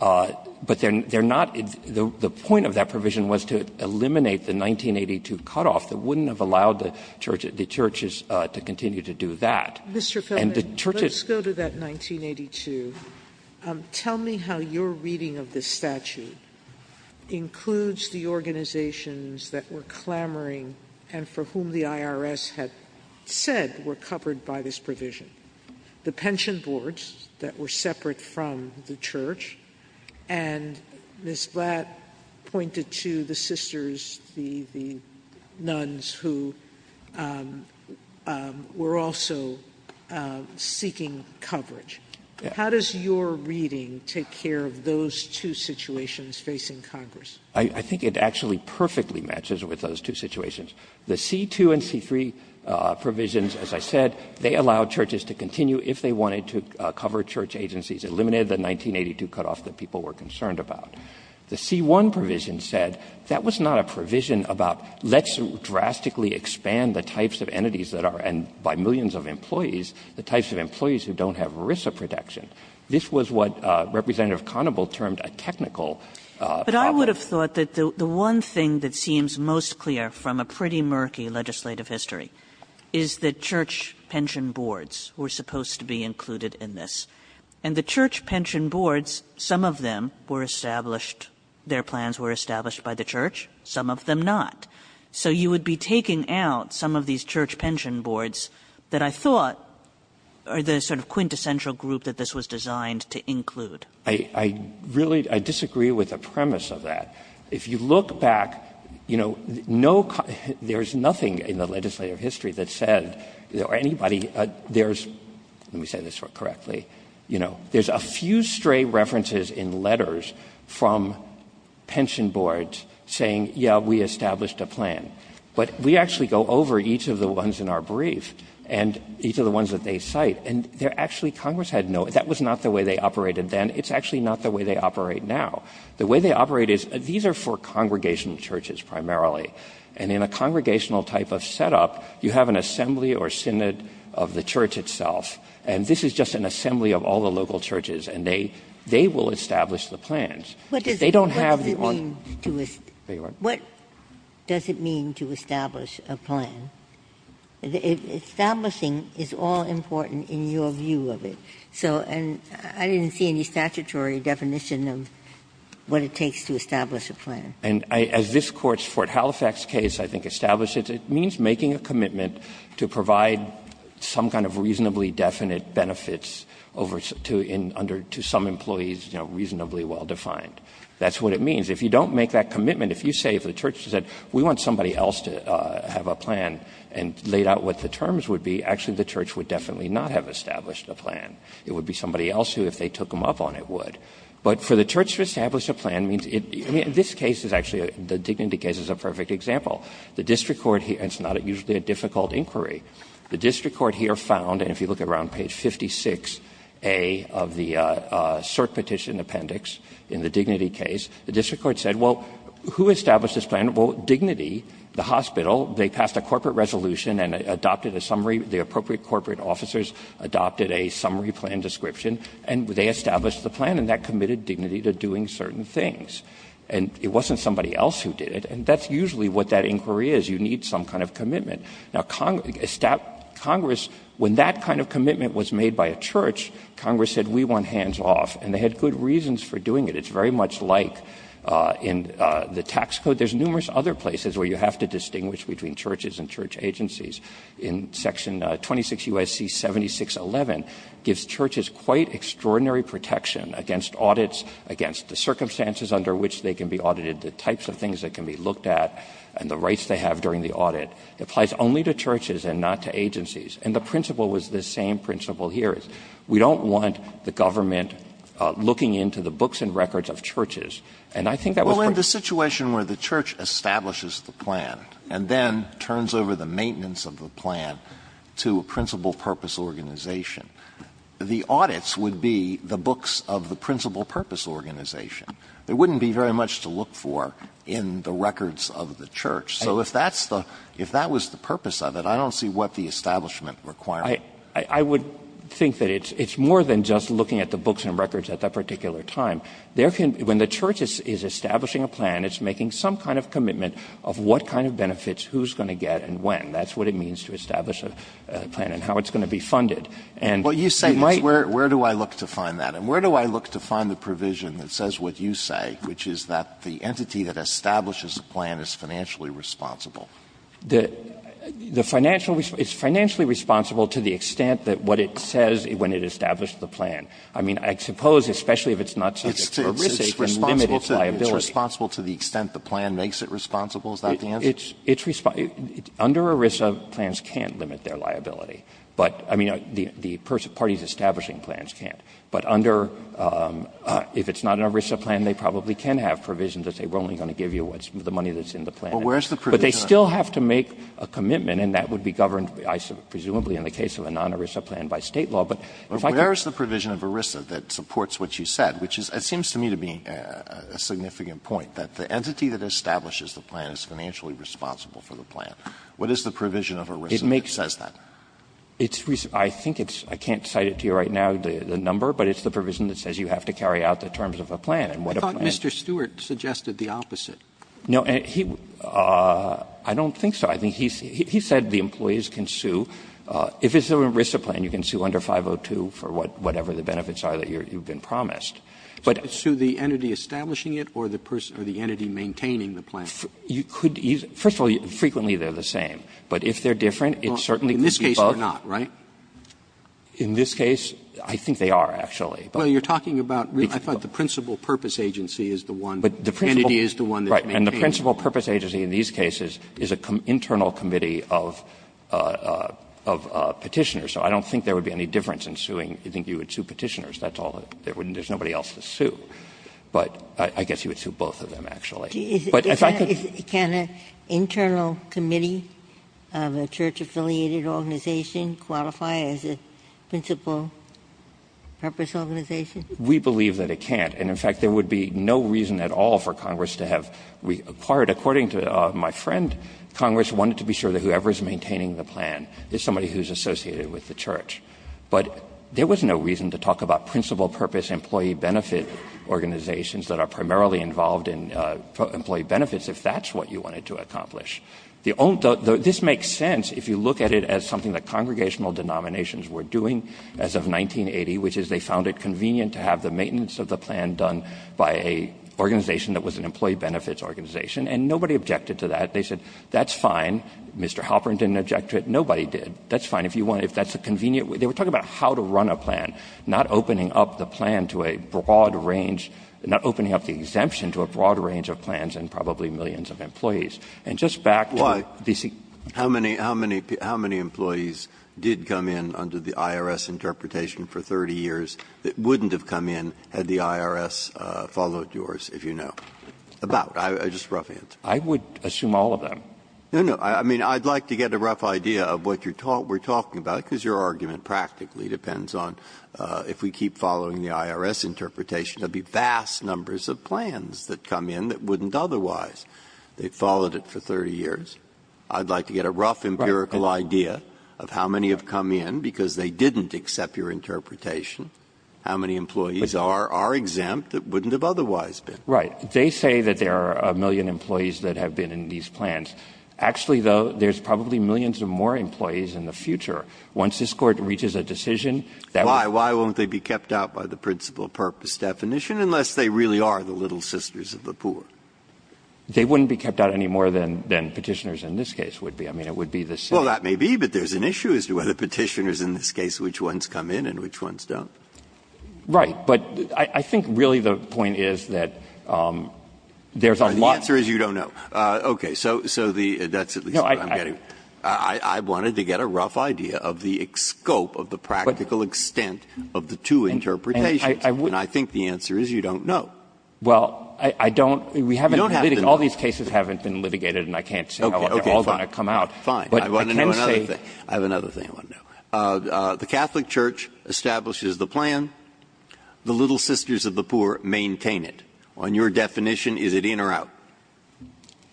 but they're not, the point of that provision was to eliminate the 1982 cutoff that wouldn't have allowed the church, the churches to continue to do that. And the church is- Mr. Feldman, let's go to that 1982. Tell me how your reading of this statute includes the organizations that were clamoring and for whom the IRS had said were covered by this provision. The pension boards that were separate from the church, and Ms. Blatt pointed to the sisters, the, the nuns who were also seeking coverage. How does your reading take care of those two situations facing Congress? I, I think it actually perfectly matches with those two situations. The C2 and C3 provisions, as I said, they allow churches to continue if they wanted to cover church agencies, eliminated the 1982 cutoff that people were concerned about. The C1 provision said, that was not a provision about, let's drastically expand the types of entities that are, and by millions of employees, the types of employees who don't have ERISA protection. This was what Representative Conable termed a technical problem. But I would have thought that the one thing that seems most clear from a pretty murky legislative history is that church pension boards were supposed to be included in this. And the church pension boards, some of them were established, their plans were established by the church. Some of them not. So you would be taking out some of these church pension boards that I thought are the sort of quintessential group that this was designed to include. I, I really, I disagree with the premise of that. If you look back, you know, no, there's nothing in the legislative history that said there were anybody, there's, let me say this correctly, you know, there's a few stray references in letters from pension boards saying, yeah, we established a plan. But we actually go over each of the ones in our brief, and each of the ones that they cite, and they're actually, Congress had no, that was not the way they operated then, it's actually not the way they operate now. The way they operate is, these are for congregational churches primarily. And in a congregational type of setup, you have an assembly or synod of the church itself. And this is just an assembly of all the local churches, and they, they will establish the plans. If they don't have the on- Ginsburg-What does it mean to establish a plan? Establishing is all important in your view of it. So, and I didn't see any statutory definition of what it takes to establish a plan. And I, as this Court's Fort Halifax case, I think, established it, it means making a commitment to provide some kind of reasonably definite benefits over, to, in, under, to some employees, you know, reasonably well defined. That's what it means. If you don't make that commitment, if you say, if the church said, we want somebody else to have a plan, and laid out what the terms would be, actually, the church would definitely not have established a plan. It would be somebody else who, if they took them up on it, would. But for the church to establish a plan means it, I mean, this case is actually, the Dignity case is a perfect example. The district court here, and it's not usually a difficult inquiry, the district court here found, and if you look around page 56A of the cert petition appendix in the Dignity case, the district court said, well, who established this plan? Well, Dignity, the hospital, they passed a corporate resolution and adopted a summary, the appropriate corporate officers adopted a summary plan description, and they established the plan, and that committed Dignity to doing certain things. And it wasn't somebody else who did it, and that's usually what that inquiry is. You need some kind of commitment. Now, Congress, when that kind of commitment was made by a church, Congress said, we want hands off, and they had good reasons for doing it. It's very much like in the tax code. There's numerous other places where you have to distinguish between churches and church agencies. In section 26 U.S.C. 7611 gives churches quite extraordinary protection against audits, against the circumstances under which they can be audited, the types of things that can be looked at, and the rights they have during the audit. It applies only to churches and not to agencies. And the principle was the same principle here. We don't want the government looking into the books and records of churches. And I think that was part of the reason why the government didn't do it. Alitoson Well, in the situation where the church establishes the plan and then turns over the maintenance of the plan to a principal purpose organization, the audits would be the books of the principal purpose organization. There wouldn't be very much to look for in the records of the church. So if that's the – if that was the purpose of it, I don't see what the establishment required. Roberts I would think that it's more than just looking at the books and records at that particular time. There can – when the church is establishing a plan, it's making some kind of commitment of what kind of benefits, who's going to get and when. That's what it means to establish a plan and how it's going to be funded. And you might – Alitoson Where do I look to find that? And where do I look to find the provision that says what you say, which is that the entity that establishes a plan is financially responsible? Roberts The financial – it's financially responsible to the extent that what it says when it establishes the plan. I mean, I suppose, especially if it's not subject to ERISA, it can limit its liability. Alitoson It's responsible to the extent the plan makes it responsible? Is that the answer? Roberts It's – under ERISA, plans can't limit their liability. But, I mean, the parties establishing plans can't. But under – if it's not an ERISA plan, they probably can have provisions that say we're only going to give you what's – the money that's in the plan. Alitoson Well, where's the provision? Roberts But they still have to make a commitment, and that would be governed, presumably, in the case of a non-ERISA plan by State law. But if I could go back to the point you made earlier, where's the provision of ERISA that supports what you said, which is – it seems to me to be a significant point, that the entity that establishes the plan is financially responsible for the plan. What is the provision of ERISA that says that? Roberts It's – I think it's – I can't cite it to you right now, the number, but it's the provision that says you have to carry out the terms of a plan. And what a plan – Roberts I thought Mr. Stewart suggested the opposite. Roberts No, he – I don't think so. I think he said the employees can sue. If it's an ERISA plan, you can sue under 502 for whatever the benefits are that you've been promised. But – Roberts So it's to the entity establishing it or the entity maintaining the plan? Roberts You could – first of all, frequently they're the same. But if they're different, it certainly could be. Roberts In this case, they're not, right? Roberts In this case, I think they are, actually. Roberts Well, you're talking about – I thought the principal purpose agency is the one, the entity is the one that's maintaining it. Roberts Right. And the principal purpose agency in these cases is an internal committee of Petitioners. So I don't think there would be any difference in suing – I think you would sue Petitioners. That's all that – there's nobody else to sue. But I guess you would sue both of them, actually. Ginsburg Is – can an internal committee of a church-affiliated organization qualify as a principal purpose organization? Roberts We believe that it can't. And, in fact, there would be no reason at all for Congress to have required – according to my friend, Congress wanted to be sure that whoever's maintaining the plan is somebody who's associated with the church. But there was no reason to talk about principal purpose employee benefit organizations that are primarily involved in employee benefits if that's what you wanted to accomplish. The – this makes sense if you look at it as something that congregational denominations were doing as of 1980, which is they found it convenient to have the maintenance of the plan done by an organization that was an employee benefits organization. And nobody objected to that. They said, that's fine. Mr. Halperin didn't object to it. Nobody did. That's fine. If you want – if that's a convenient – they were talking about how to run a plan, not opening up the plan to a broad range – not opening up the exemption to a broad range of plans and probably millions of employees. And just back to the – Breyer How many – how many employees did come in under the IRS interpretation for 30 years that wouldn't have come in had the IRS followed yours, if you know? About. Just a rough answer. Roberts I would assume all of them. Breyer No, no. I mean, I'd like to get a rough idea of what you're – we're talking about, because your argument practically depends on, if we keep following the IRS interpretation, there'll be vast numbers of plans that come in that wouldn't otherwise. They followed it for 30 years. I'd like to get a rough empirical idea of how many have come in because they didn't accept your interpretation, how many employees are exempt that wouldn't have otherwise been. Roberts Right. They say that there are a million employees that have been in these plans. Actually, though, there's probably millions of more employees in the future. Once this Court reaches a decision, that would be the case. Breyer Why? Why won't they be kept out by the principal purpose definition unless they really are the little sisters of the poor? Roberts They wouldn't be kept out any more than Petitioners in this case would be. I mean, it would be the same. Breyer Well, that may be, but there's an issue as to whether Petitioners in this case, which ones come in and which ones don't. Roberts Right. But I think really the point is that there's a lot of them. Breyer The answer is you don't know. Okay. So the – that's at least what I'm getting. I wanted to get a rough idea of the scope of the practical extent of the two interpretations. And I think the answer is you don't know. Roberts Well, I don't – we haven't – all these cases haven't been litigated and I can't say how they're all going to come out. Breyer Okay, fine. I want to know another thing. I have another thing I want to know. The Catholic Church establishes the plan. The little sisters of the poor maintain it. On your definition, is it in or out?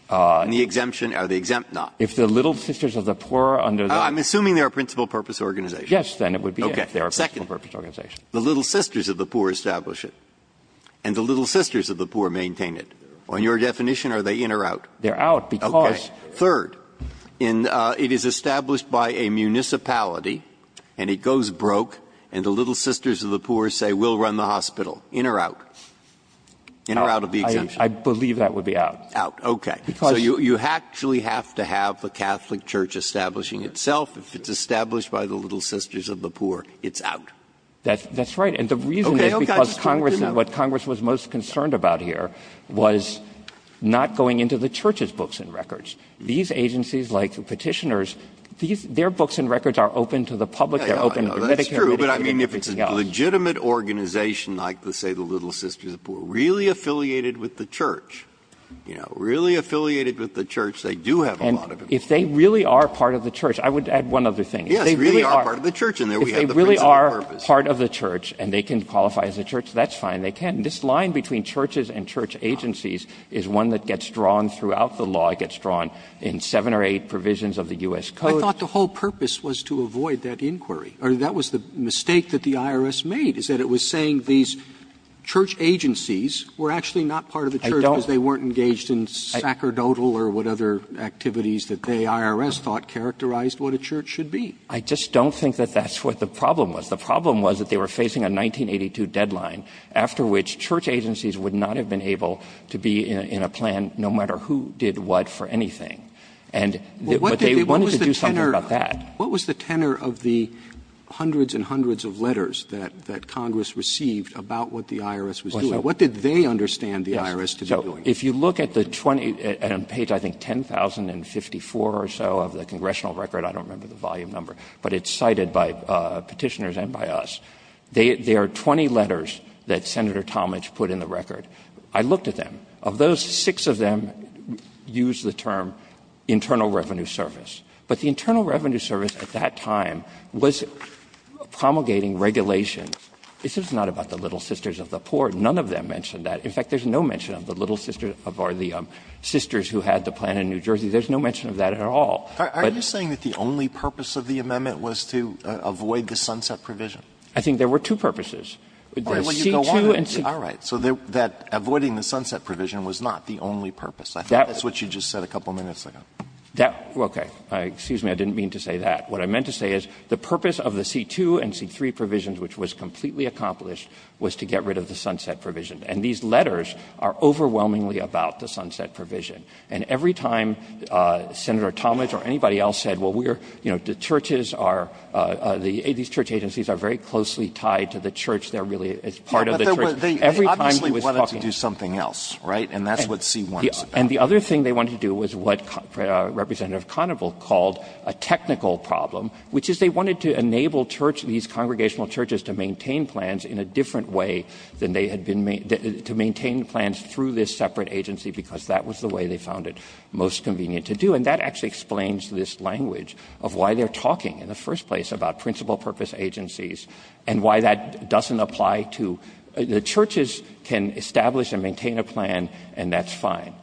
And the exemption – or the exempt not? Roberts If the little sisters of the poor under the – Breyer I'm assuming they're a principal purpose organization. Roberts Yes, then it would be in if they're a principal purpose organization. Breyer Okay. Second, the little sisters of the poor establish it and the little sisters of the poor maintain it. On your definition, are they in or out? Roberts They're out because – Breyer Okay. Third, in – it is established by a municipality and it goes broke and the little sisters of the poor say we'll run the hospital. In or out? In or out of the exemption? Roberts I believe that would be out. Breyer Out. Okay. So you actually have to have the Catholic Church establishing itself. If it's established by the little sisters of the poor, it's out. Roberts That's right. And the reason is because Congress – what Congress was most concerned about here was not going into the church's books and records. These agencies like Petitioners, their books and records are open to the public. They're open to Medicare, Medicaid and everything else. Breyer That's true, but I mean if it's a legitimate organization like, say, the little sisters of the poor, really affiliated with the church, you know, really affiliated with the church, they do have a lot of information. Roberts And if they really are part of the church, I would add one other thing. If they really are part of the church and they can qualify as a church, that's fine, they can. This line between churches and church agencies is one that gets drawn throughout the law, it gets drawn in seven or eight provisions of the U.S. Code. Roberts I thought the whole purpose was to avoid that inquiry, or that was the mistake that the IRS made, is that it was saying these church agencies were actually not part of the church because they weren't engaged in sacerdotal or what other activities that they, IRS, thought characterized what a church should be. Roberts I just don't think that that's what the problem was. The problem was that they were facing a 1982 deadline after which church agencies would not have been able to be in a plan no matter who did what for anything. And they wanted to do something about that. Roberts What was the tenor of the hundreds and hundreds of letters that Congress received about what the IRS was doing? What did they understand the IRS to be doing? Roberts If you look at the 20, on page, I think, 10,054 or so of the Congressional record, I don't remember the volume number, but it's cited by Petitioners and by us, there are 20 letters that Senator Talmadge put in the record. I looked at them. Of those, six of them use the term internal revenue service. But the internal revenue service at that time was promulgating regulation. This is not about the Little Sisters of the Poor. None of them mention that. In fact, there's no mention of the Little Sisters of the Poor, the sisters who had the plan in New Jersey. There's no mention of that at all. Alito Are you saying that the only purpose of the amendment was to avoid the sunset provision? Roberts I think there were two purposes. The C-2 and C-3. Alito All right. So that avoiding the sunset provision was not the only purpose. I think that's what you just said a couple minutes ago. Roberts That was okay. Excuse me. I didn't mean to say that. What I meant to say is the purpose of the C-2 and C-3 provisions, which was completely accomplished, was to get rid of the sunset provision. And these letters are overwhelmingly about the sunset provision. And every time Senator Talmadge or anybody else said, well, we're, you know, the churches are, these church agencies are very closely tied to the church. They're really, it's part of the church. Every time he was talking. Alito They obviously wanted to do something else, right? And that's what C-1 is about. Roberts And the other thing they wanted to do was what Representative Conable called a technical problem, which is they wanted to enable church, these congregational churches to maintain plans in a different way than they had been, to maintain plans through this separate agency, because that was the way they found it most convenient to do. And that actually explains this language of why they're talking in the first place about principal purpose agencies and why that doesn't apply to the churches can establish and maintain a plan, and that's fine.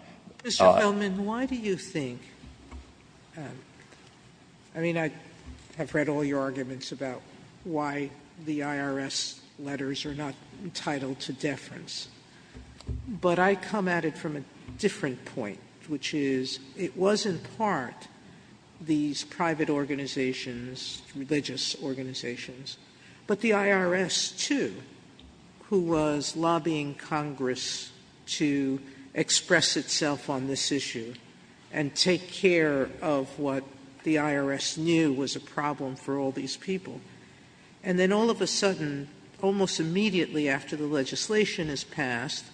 Sotomayor Mr. Gelman, why do you think, I mean, I have read all your arguments about why the IRS letters are not entitled to deference, but I come at it from a different point, which is it was in part these private organizations, religious organizations, but the IRS too, who was lobbying Congress to express itself on this issue and take care of what the IRS knew was a problem for all these people. And then all of a sudden, almost immediately after the legislation is passed,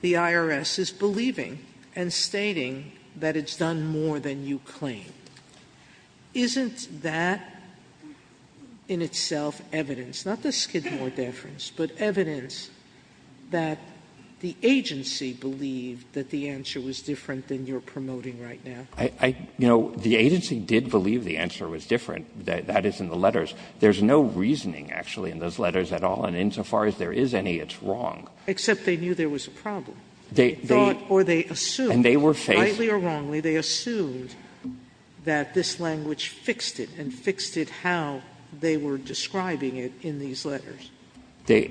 the IRS is believing and stating that it's done more than you claim. Isn't that in itself evidence, not the Skidmore deference, but evidence that the agency believed that the answer was different than you're promoting right now? I, you know, the agency did believe the answer was different. That is in the letters. There's no reasoning, actually, in those letters at all, and insofar as there is any, it's wrong. Except they knew there was a problem. They thought or they assumed. And they were faced. Sotomayor, rightly or wrongly, they assumed that this language fixed it and fixed it how they were describing it in these letters. They,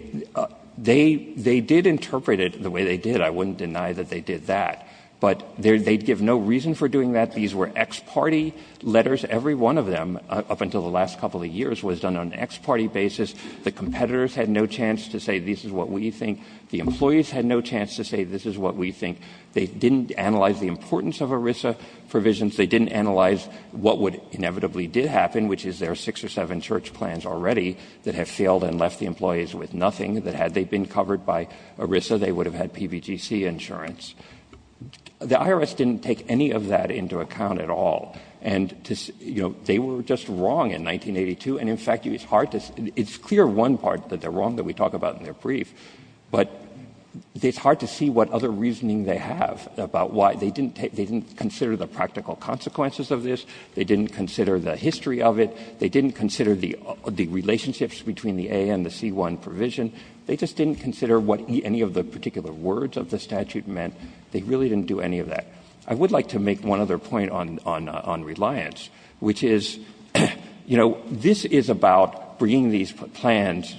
they, they did interpret it the way they did. I wouldn't deny that they did that. But they'd give no reason for doing that. These were ex-party letters. Every one of them up until the last couple of years was done on an ex-party basis. The competitors had no chance to say this is what we think. The employees had no chance to say this is what we think. They didn't analyze the importance of ERISA provisions. They didn't analyze what would inevitably did happen, which is there are six or seven church plans already that have failed and left the employees with nothing that had they been covered by ERISA, they would have had PBGC insurance. The IRS didn't take any of that into account at all. And, you know, they were just wrong in 1982. And, in fact, it's hard to, it's clear one part that they're wrong that we talk about in their brief. But it's hard to see what other reasoning they have about why they didn't consider the practical consequences of this. They didn't consider the history of it. They didn't consider the relationships between the A and the C-1 provision. They just didn't consider what any of the particular words of the statute meant. They really didn't do any of that. I would like to make one other point on reliance, which is, you know, this is about bringing these plans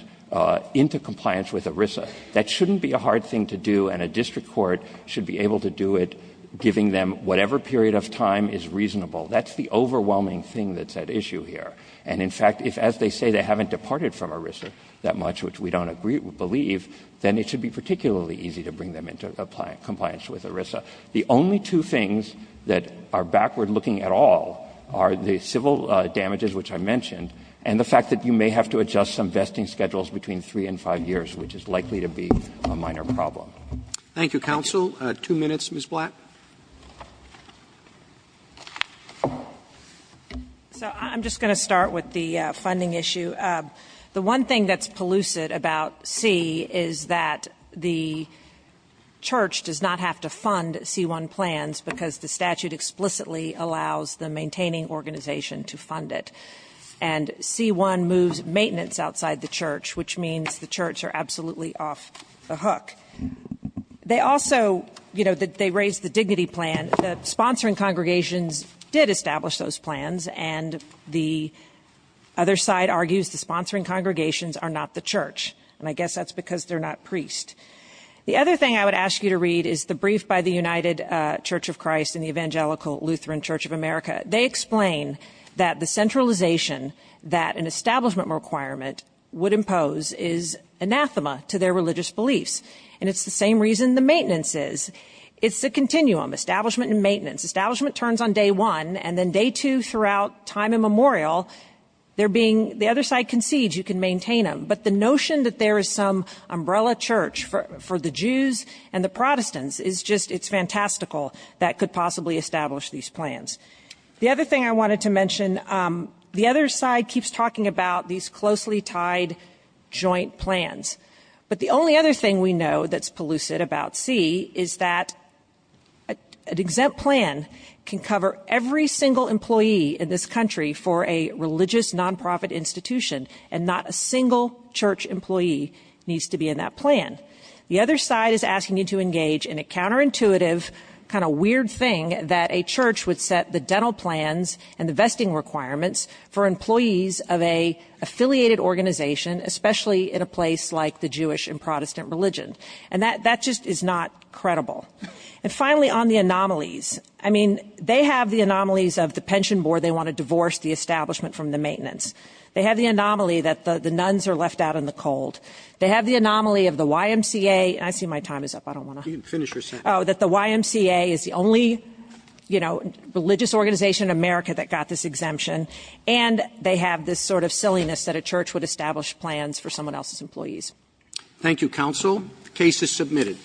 into compliance with ERISA. That shouldn't be a hard thing to do. And a district court should be able to do it giving them whatever period of time is reasonable. That's the overwhelming thing that's at issue here. And, in fact, if, as they say, they haven't departed from ERISA that much, which we don't believe, then it should be particularly easy to bring them into compliance with ERISA. The only two things that are backward-looking at all are the civil damages, which I may have to adjust some vesting schedules between 3 and 5 years, which is likely to be a minor problem. Roberts. Thank you, counsel. Two minutes, Ms. Black. So I'm just going to start with the funding issue. The one thing that's pellucid about C is that the church does not have to fund C-1 plans because the statute explicitly allows the maintaining organization to fund it. And C-1 moves maintenance outside the church, which means the church are absolutely off the hook. They also, you know, they raised the dignity plan. The sponsoring congregations did establish those plans. And the other side argues the sponsoring congregations are not the church. And I guess that's because they're not priests. The other thing I would ask you to read is the brief by the United Church of Christ and the Evangelical Lutheran Church of America. They explain that the centralization that an establishment requirement would impose is anathema to their religious beliefs. And it's the same reason the maintenance is. It's a continuum. Establishment and maintenance. Establishment turns on day one, and then day two, throughout time immemorial, they're being, the other side concedes you can maintain them. But the notion that there is some umbrella church for the Jews and the Protestants is just, it's fantastical that could possibly establish these plans. The other thing I wanted to mention, the other side keeps talking about these closely tied joint plans. But the only other thing we know that's pellucid about C is that an exempt plan can cover every single employee in this country for a religious non-profit institution. And not a single church employee needs to be in that plan. The other side is asking you to engage in a counterintuitive kind of weird thing that a church would set the dental plans and the vesting requirements for employees of a affiliated organization, especially in a place like the Jewish and Protestant religion. And that just is not credible. And finally, on the anomalies. I mean, they have the anomalies of the pension board, they want to divorce the establishment from the maintenance. They have the anomaly that the nuns are left out in the cold. They have the anomaly of the YMCA, and I see my time is up, I don't want to. You can finish your sentence. That the YMCA is the only, you know, religious organization in America that got this exemption. And they have this sort of silliness that a church would establish plans for someone else's employees. Thank you, counsel. The case is submitted.